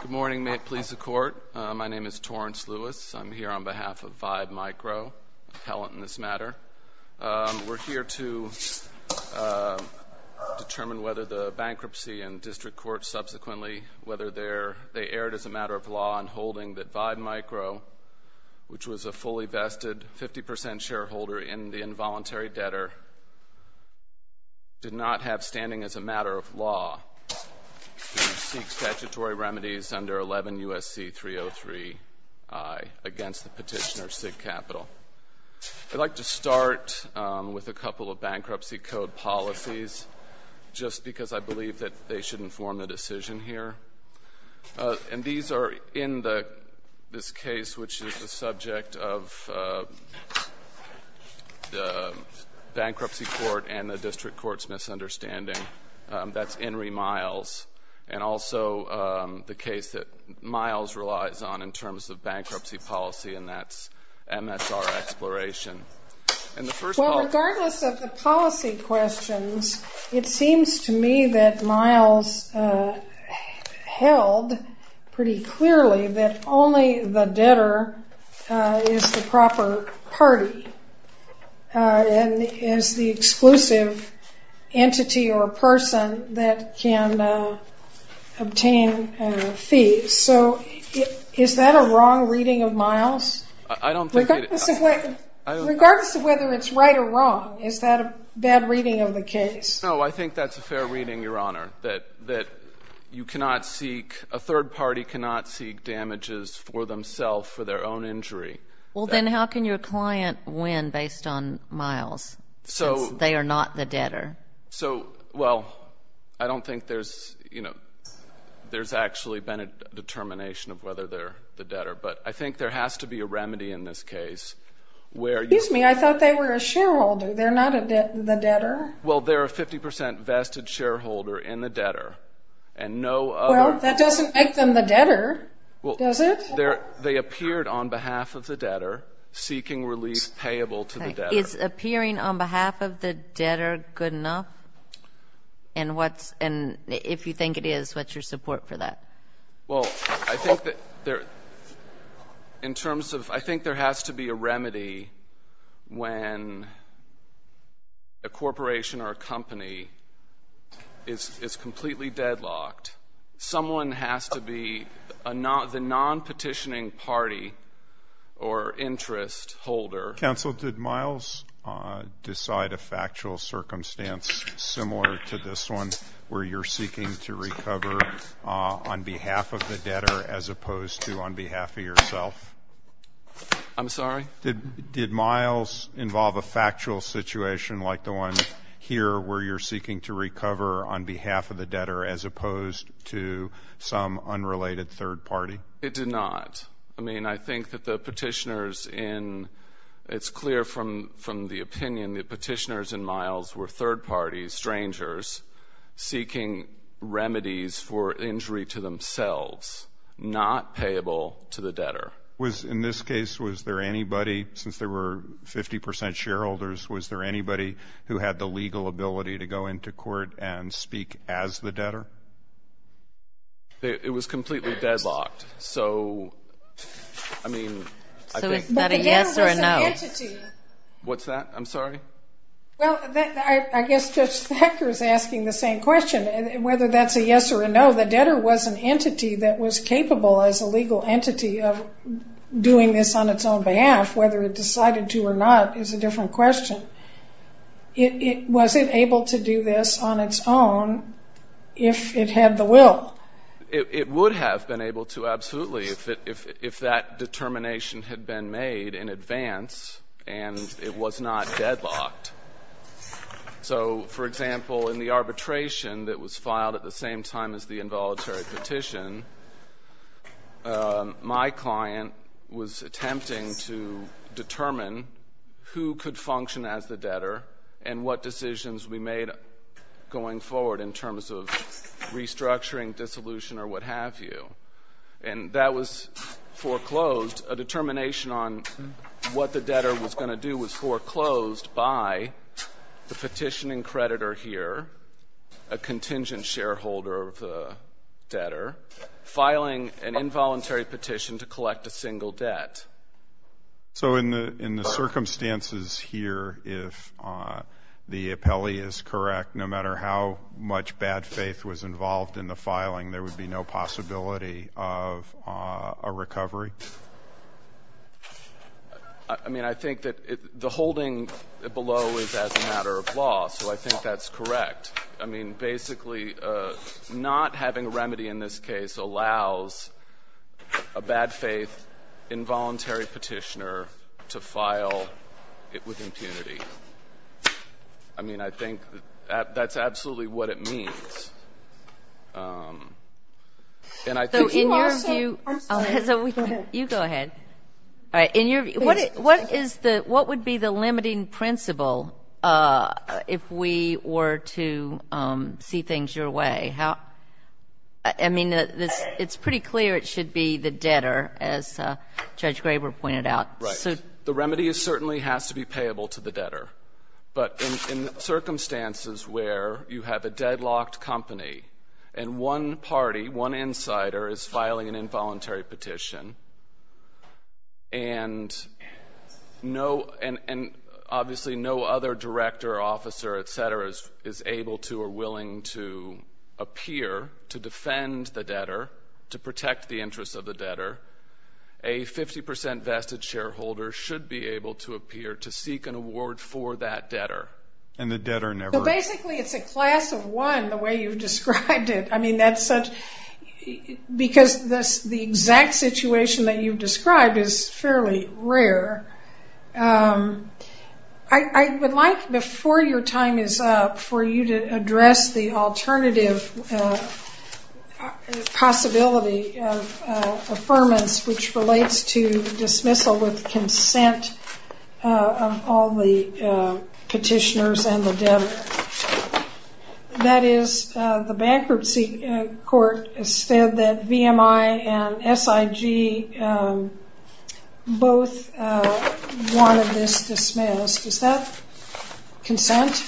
Good morning. May it please the Court, my name is Torrence Lewis. I'm here on behalf of Vibe Micro, an appellant in this matter. We're here to determine whether the bankruptcy and district court subsequently, whether they're, they erred as a matter of law in holding that Vibe Micro, which was a fully vested 50% shareholder in the involuntary debtor, did not have standing as a matter of law. We seek statutory remedies under 11 U.S.C. 303i against the petitioner, SIG Capital. I'd like to start with a couple of bankruptcy code policies just because I believe that they should inform the decision here. And these are in the, this case which is the subject of the bankruptcy court and the district court's misunderstanding. That's Enri Miles. And also the case that Miles relies on in terms of bankruptcy policy, and that's MSR Exploration. And the first policy- Well, regardless of the policy questions, it seems to me that Miles held pretty clearly that only the debtor is the proper party and is the exclusive entity or person that can obtain fees. So is that a wrong reading of Miles? I don't think it- Regardless of whether it's right or wrong, is that a bad reading of the case? No, I think that's a fair reading, Your Honor, that you cannot seek, a third party cannot seek damages for themselves for their own injury. Well, then how can your client win based on Miles, since they are not the debtor? So, well, I don't think there's, you know, there's actually been a determination of whether they're the debtor. But I think there has to be a remedy in this case where- Excuse me, I thought they were a shareholder. They're not the debtor. Well, they're a 50 percent vested shareholder in the debtor. And no other- Does it? They appeared on behalf of the debtor, seeking relief payable to the debtor. Is appearing on behalf of the debtor good enough? And if you think it is, what's your support for that? Well, I think that there, in terms of, I think there has to be a remedy when a corporation or a company is completely deadlocked. Someone has to be the non-petitioning party or interest holder. Counsel, did Miles decide a factual circumstance similar to this one, where you're seeking to recover on behalf of the debtor as opposed to on behalf of yourself? I'm sorry? Did Miles involve a factual situation like the one here, where you're seeking to recover on behalf of the debtor as opposed to some unrelated third party? It did not. I mean, I think that the petitioners in- it's clear from the opinion that petitioners in Miles were third parties, strangers, seeking remedies for injury to themselves, not payable to the debtor. In this case, was there anybody, since there were 50% shareholders, was there anybody who had the legal ability to go into court and speak as the debtor? It was completely deadlocked. So, I mean, I think- So is that a yes or a no? What's that? I'm sorry? Well, I guess Judge Hecker is asking the same question. Whether that's a yes or a no, the doing this on its own behalf, whether it decided to or not, is a different question. Was it able to do this on its own if it had the will? It would have been able to, absolutely, if that determination had been made in advance and it was not deadlocked. So, for example, in the arbitration that was filed at the same time as the involuntary petition, my client was attempting to determine who could function as the debtor and what decisions we made going forward in terms of restructuring, dissolution, or what have you. And that was foreclosed. A determination on what the debtor was going to do was foreclosed by the petitioning creditor here, a contingent shareholder of the debtor, filing an involuntary petition to collect a single debt. So in the circumstances here, if the appellee is correct, no matter how much bad faith was involved in the filing, there would be no possibility of a recovery? I mean, I think that the holding below is as a matter of law, so I think that's correct. I mean, basically, not having a remedy in this case allows a bad faith involuntary petitioner to file it with impunity. I mean, I think that's absolutely what it means. And I think in your view as a weekly case, I think that's absolutely what it means. You go ahead. All right. In your view, what is the what would be the limiting principle if we were to see things your way? I mean, it's pretty clear it should be the debtor, as Judge Graber pointed out. Right. The remedy certainly has to be payable to the debtor. But in circumstances where you have a deadlocked company and one party, one insider is filing an involuntary petition, and obviously no other director, officer, et cetera, is able to or willing to appear to defend the debtor, to protect the interests of the debtor, a 50 percent vested shareholder should be able to appear to seek an award for that debtor. And the debtor never... So basically, it's a class of one, the way you've described it. I mean, that's such... Because the exact situation that you've described is fairly rare. I would like, before your time is up, for you to address the alternative possibility of affirmance, which relates to dismissal with consent of all the petitioners and the debtor. That is, the bankruptcy court said that VMI and SIG both wanted this dismissed. Is that consent?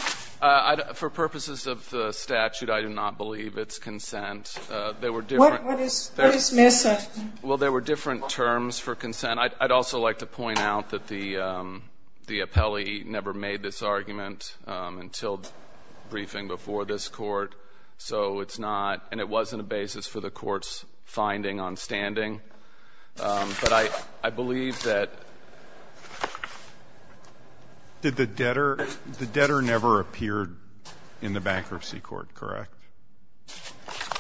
For purposes of the statute, I do not believe it's consent. There were different... What is dismissal? Well, there were different terms for consent. I'd also like to point out that the bankruptcy court did not have a briefing before this court, so it's not, and it wasn't a basis for the court's finding on standing. But I believe that... Did the debtor... The debtor never appeared in the bankruptcy court, correct?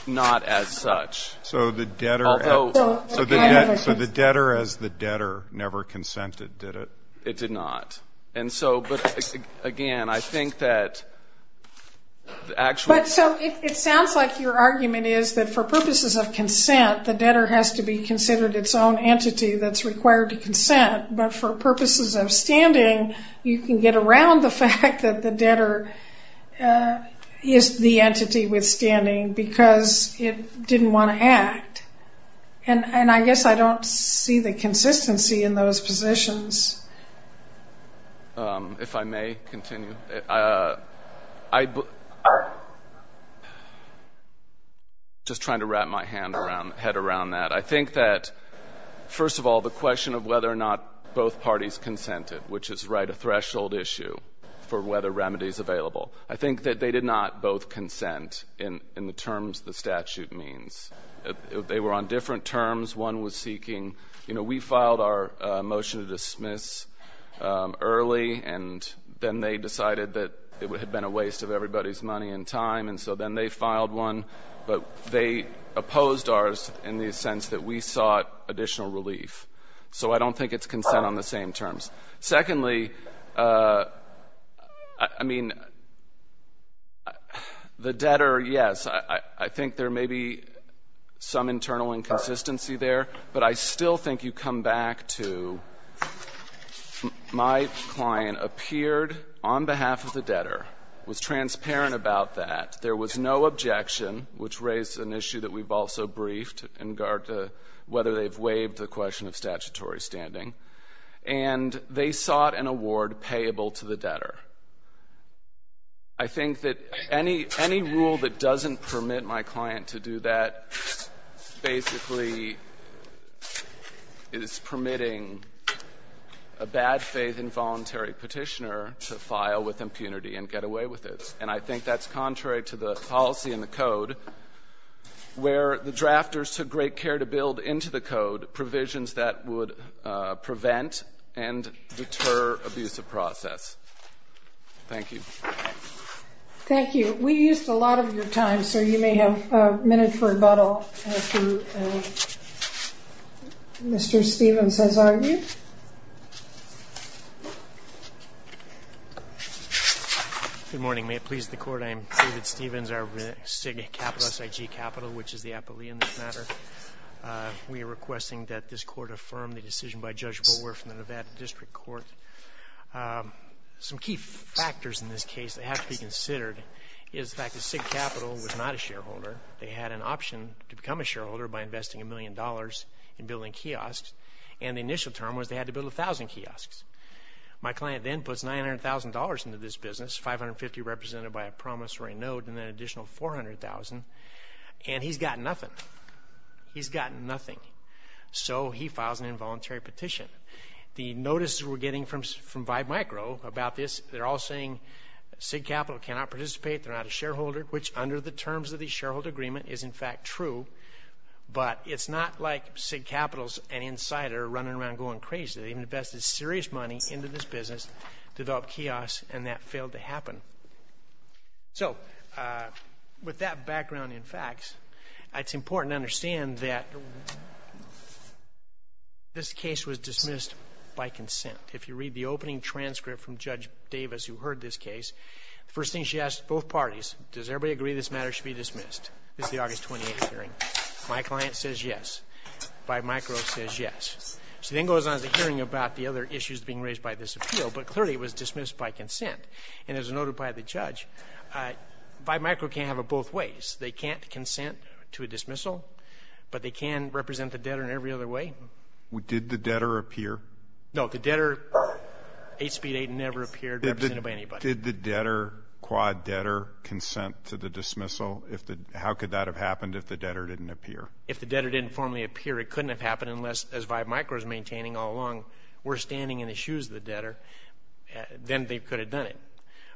Not as such. So the debtor... Although... So the debtor as the debtor never consented, did it? It did not. And so, but again, I think that the actual... So it sounds like your argument is that for purposes of consent, the debtor has to be considered its own entity that's required to consent, but for purposes of standing, you can get around the fact that the debtor is the entity withstanding because it didn't want to act. And I guess I don't see the consistency in those positions. If I may continue, I... Just trying to wrap my head around that. I think that, first of all, the question of whether or not both parties consented, which is, right, a threshold issue for whether remedy is available. I think that they did not both consent in the terms the statute means. They were on different terms. One was seeking... You know, we filed our motion to dismiss early, and then they decided that it had been a waste of everybody's money and time, and so then they filed one. But they opposed ours in the sense that we sought additional relief. So I don't think it's consent on the same terms. Secondly, I mean, the debtor, yes, I think there may be some internal inconsistency there, but I still think you come back to my client appeared on behalf of the debtor, was transparent about that. There was no objection, which raised an issue that we've also briefed in regard to whether they've waived the question of statutory standing. And they sought an award payable to the debtor. I think that any rule that doesn't permit my client to do that basically is permitting a bad-faith involuntary Petitioner to file with impunity and get away with it. And I think that's contrary to the policy and the code where the drafters took great care to build into the code provisions that would prevent and deter abusive process. Thank you. Thank you. We used a lot of your time, so you may have a minute for rebuttal through Mr. Stephens as argued. Good morning. May it please the Court, I am David Stephens, our SIG Capital, which is the appellee in this matter. We are requesting that this Court affirm the decision by Judge Boer from the Nevada District Court. Some key factors in this case that have to be considered is the fact that SIG Capital was not a shareholder. They had an option to become a shareholder by investing a million dollars in building kiosks, and the initial term was they had to build 1,000 kiosks. My client then puts $900,000 into this business, $550,000 represented by a $400,000, and he's got nothing. He's got nothing. So he files an involuntary petition. The notices we're getting from Vive Micro about this, they're all saying SIG Capital cannot participate, they're not a shareholder, which under the terms of the shareholder agreement is in fact true, but it's not like SIG Capital's an insider running around going crazy. They invested serious money into this business, developed kiosks, and that failed to happen. So, with that background in facts, it's important to understand that this case was dismissed by consent. If you read the opening transcript from Judge Davis who heard this case, the first thing she asked both parties, does everybody agree this matter should be dismissed? This is the August 28 hearing. My client says yes. Vive Micro says yes. She then goes on to hearing about the other issues being raised by this appeal, but clearly it was dismissed by consent. And as noted by the judge, Vive Micro can't have it both ways. They can't consent to a dismissal, but they can represent the debtor in every other way. Did the debtor appear? No, the debtor, 8 Speed 8, never appeared represented by anybody. Did the debtor, quad debtor, consent to the dismissal? How could that have happened if the debtor didn't appear? If the debtor didn't formally appear, it couldn't have happened unless, as you said, if the debtor didn't have any issues with the debtor, then they could have done it.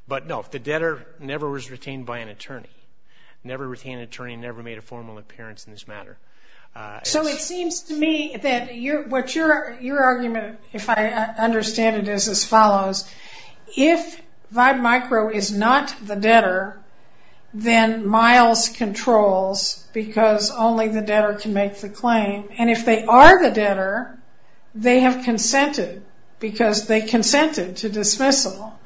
But no, the debtor never was retained by an attorney, never retained an attorney, never made a formal appearance in this matter. So, it seems to me that your argument, if I understand it, is as follows. If Vive Micro is not the debtor, then Miles controls because only the debtor can make the claim. And if they are the debtor, they have consented because they consented to dismissal.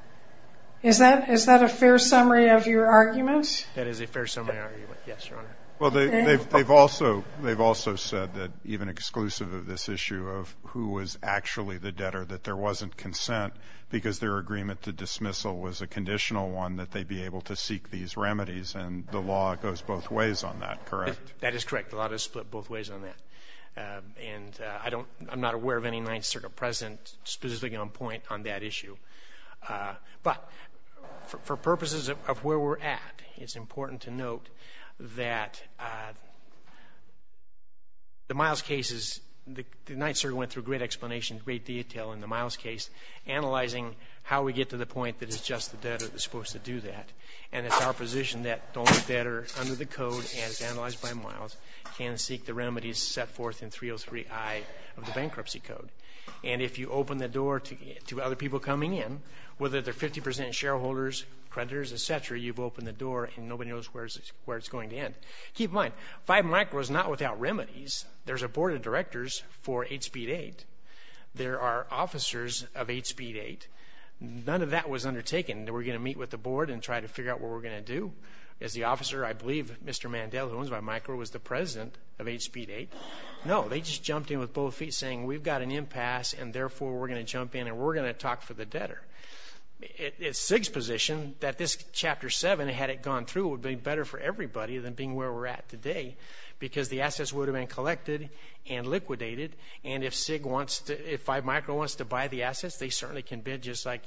Is that a fair summary of your argument? That is a fair summary of my argument, yes, Your Honor. Well, they've also said that, even exclusive of this issue of who was actually the debtor, that there wasn't consent because their agreement to dismissal was a conditional one that they'd be able to seek these remedies. And the law goes both ways on that, correct? That is correct. The law does split both ways on that. And I don't, I'm not aware of any Ninth Circuit precedent specifically on point on that issue. But for purposes of where we're at, it's important to note that the Miles case is, the Ninth Circuit went through a great explanation, great detail in the Miles case, analyzing how we get to the point that it's just the debtor that's supposed to do that. And it's our position that only the debtor, under the name Miles, can seek the remedies set forth in 303I of the bankruptcy code. And if you open the door to other people coming in, whether they're 50 percent shareholders, creditors, et cetera, you've opened the door and nobody knows where it's going to end. Keep in mind, 5 Micro is not without remedies. There's a board of directors for 8 Speed 8. There are officers of 8 Speed 8. None of that was undertaken. We're going to meet with the board and try to figure out what we're going to do. As the officer, I believe Mr. Mandel, who was the president of 8 Speed 8, no, they just jumped in with both feet saying we've got an impasse and therefore we're going to jump in and we're going to talk for the debtor. It's SIG's position that this Chapter 7, had it gone through, would be better for everybody than being where we're at today because the assets would have been collected and liquidated. And if SIG wants to, if 5 Micro wants to buy the assets, they certainly can bid just like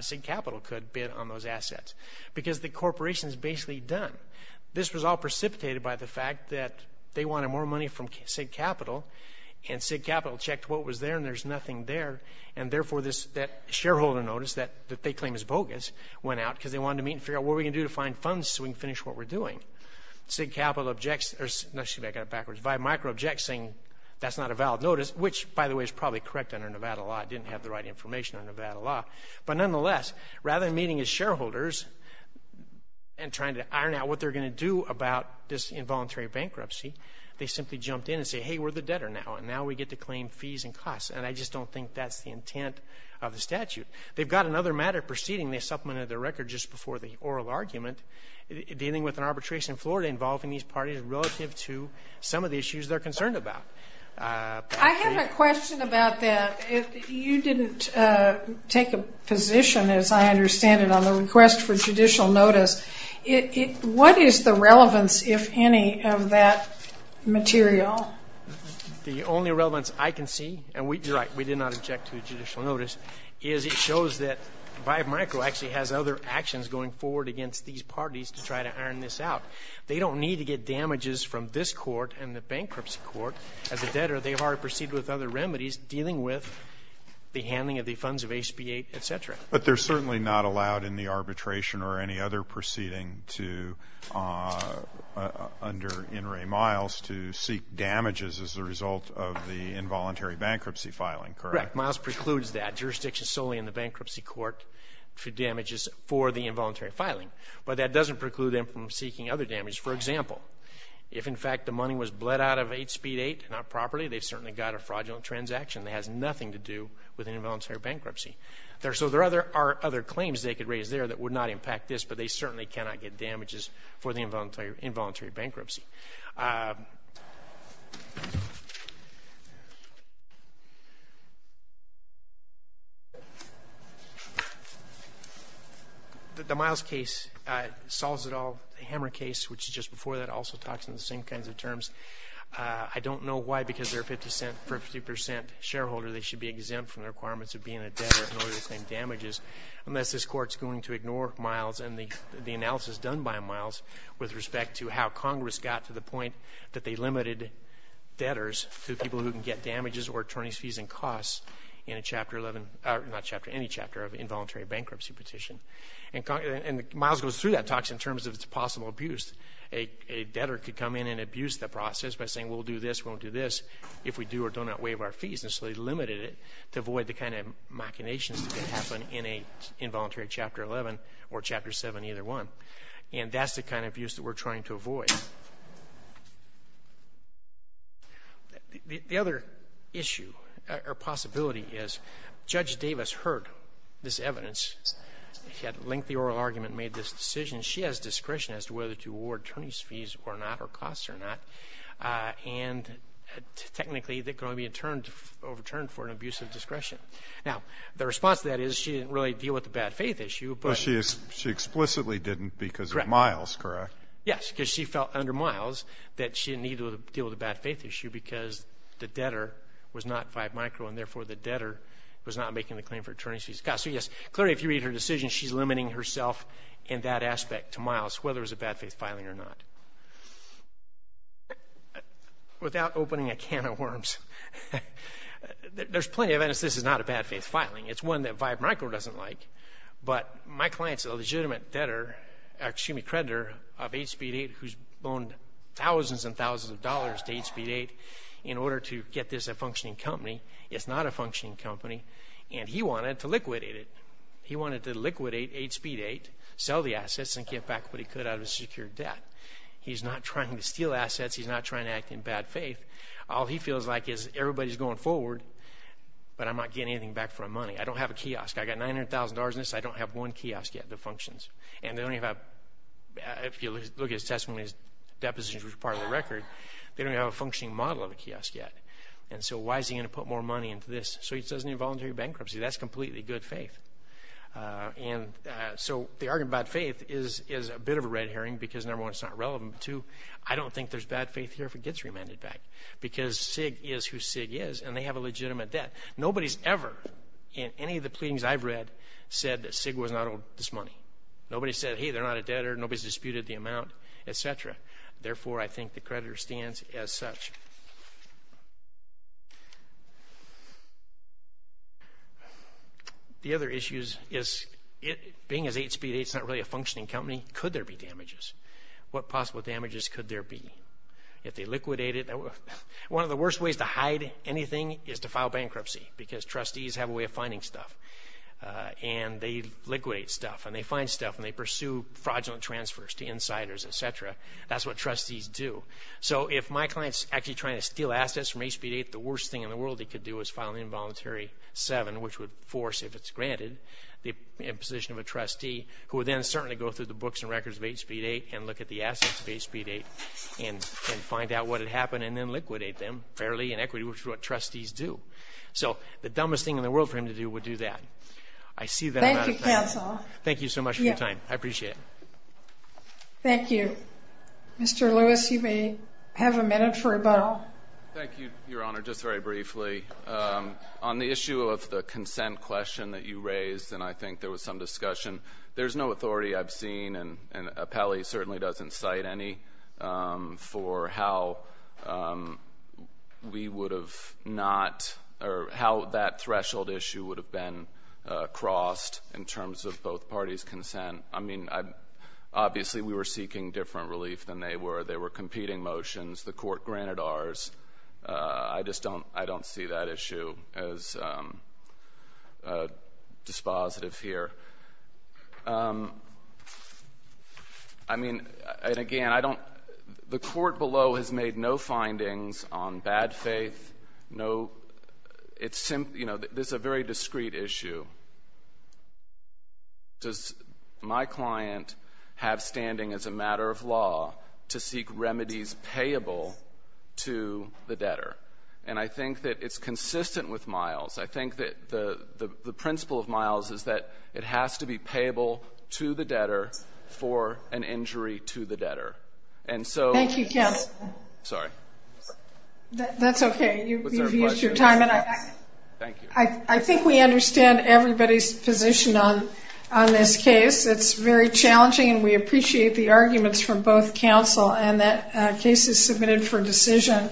SIG Capital could bid on those assets because the corporation's basically done. This was all precipitated by the fact that they wanted more money from SIG Capital and SIG Capital checked what was there and there's nothing there and therefore that shareholder notice that they claim is bogus went out because they wanted to meet and figure out what we can do to find funds so we can finish what we're doing. SIG Capital objects, actually I got it backwards, 5 Micro objects saying that's not a valid notice, which by the way is probably correct under Nevada law. It didn't have the right information under Nevada law. But nonetheless, rather than meeting as shareholders and trying to iron out what they're going to do about this involuntary bankruptcy, they simply jumped in and say, hey, we're the debtor now and now we get to claim fees and costs and I just don't think that's the intent of the statute. They've got another matter proceeding, they supplemented their record just before the oral argument, dealing with an arbitration in Florida involving these parties relative to some of the issues they're concerned about. I have a question about that. You didn't take a position, as I understand it, on the request for judicial notice. What is the relevance, if any, of that material? The only relevance I can see, and you're right, we did not object to a judicial notice, is it shows that 5 Micro actually has other actions going forward against these parties to try to iron this out. They don't need to get damages from this court and the bankruptcy court. As a debtor, they've already proceeded with other remedies dealing with the handling of the funds of HB 8, et cetera. But they're certainly not allowed in the arbitration or any other proceeding under In re Miles to seek damages as a result of the involuntary bankruptcy filing, correct? Correct. Miles precludes that. Jurisdiction is solely in the bankruptcy court for damages for the involuntary filing. But that doesn't preclude them from seeking other damages. For example, if in fact the money was bled out of HB 8, not properly, they've certainly got a fraudulent transaction that has nothing to do with an involuntary bankruptcy. So there are other claims they could raise there that would not impact this, but they certainly cannot get damages for the involuntary bankruptcy. The Miles case solves it all. The Hammer case, which is just before that, also talks in the same kinds of terms. I don't know why, because they're saying for a 50% shareholder, they should be exempt from the requirements of being a debtor in order to claim damages, unless this Court's going to ignore Miles and the analysis done by Miles with respect to how Congress got to the point that they limited debtors to people who can get damages or attorney's fees and costs in a chapter 11, not chapter, any chapter of involuntary bankruptcy petition. And Miles goes through that, talks in terms of its possible abuse. A debtor could come in and abuse the process by saying, we'll do this, we'll do this, if we do or do not waive our fees. And so they limited it to avoid the kind of machinations that could happen in an involuntary chapter 11 or chapter 7, either one. And that's the kind of abuse that we're trying to avoid. The other issue or possibility is Judge Davis heard this evidence. She had a lengthy oral argument and made this decision. She has discretion as to whether to award attorney's fees or not or costs or not. And technically, they're going to be overturned for an abuse of discretion. Now, the response to that is she didn't really deal with the bad faith issue. But she explicitly didn't because of Miles, correct? Yes, because she felt under Miles that she didn't need to deal with the bad faith issue because the debtor was not by micro and therefore the debtor was not making the claim for attorney's fees and costs. So yes, clearly if you read her decision, she's limiting herself in that aspect to Miles, whether it was a bad faith filing or not. Without opening a can of worms, there's plenty of evidence this is not a bad faith filing. It's one that Vibe Micro doesn't like. But my client's a legitimate creditor of 8 Speed 8 who's loaned thousands and thousands of dollars to 8 Speed 8 in order to get this a functioning company. It's not a company that's going to liquidate 8 Speed 8, sell the assets, and get back what he could out of his secured debt. He's not trying to steal assets. He's not trying to act in bad faith. All he feels like is everybody's going forward, but I'm not getting anything back for my money. I don't have a kiosk. I've got $900,000 in this. I don't have one kiosk yet that functions. And they don't even have, if you look at his testimony, his depositions were part of the record. They don't even have a functioning model of a kiosk yet. And so why is he going to put more money into this? So he says no voluntary bankruptcy. That's completely good faith. And so the argument about faith is a bit of a red herring because, number one, it's not relevant. Two, I don't think there's bad faith here if it gets remanded back because Sig is who Sig is and they have a legitimate debt. Nobody's ever in any of the pleadings I've read said that Sig was not owed this money. Nobody said, hey, they're not a debtor. Nobody's disputed the amount, etc. Therefore, I think the creditor stands as such. The other issues is, being as 8speed8, it's not really a functioning company. Could there be damages? What possible damages could there be? If they liquidate it? One of the worst ways to hide anything is to file bankruptcy because trustees have a way of finding stuff. And they liquidate stuff and they find stuff and they pursue fraudulent transfers to insiders, etc. That's what trustees do. So if my client's actually trying to steal assets from 8speed8, the worst thing in the world he could do is file an involuntary 7, which would force, if it's granted, the imposition of a trustee who would then certainly go through the books and records of 8speed8 and look at the assets of 8speed8 and find out what had happened and then liquidate them fairly in equity, which is what trustees do. So the dumbest thing in the world for him to do would do that. Thank you, counsel. Thank you so much for your time. I appreciate it. Thank you. Mr. Lewis, you may have a minute for rebuttal. Thank you, Your Honor. Just very briefly, on the issue of the consent question that you raised, and I think there was some discussion, there's no authority I've seen, and Appelli certainly doesn't cite any, for how we would have not or how that threshold issue would have been crossed in terms of both parties' consent. I mean, obviously we were seeking different relief than they were. They were competing motions. The court granted ours. I just don't see that issue as dispositive here. I mean, and again, the court below has made no findings on bad faith. It's a very discreet issue. Does my client have standing as a matter of law to seek remedies payable to the debtor? And I think that it's consistent with Miles. I think that the principle of Miles is that it has to be payable to the debtor for an injury to the debtor. Thank you, counsel. Sorry. That's okay. You've used your time. Thank you. I think we understand everybody's position on this case. It's very challenging and we appreciate the arguments from both counsel, and that case is submitted for decision.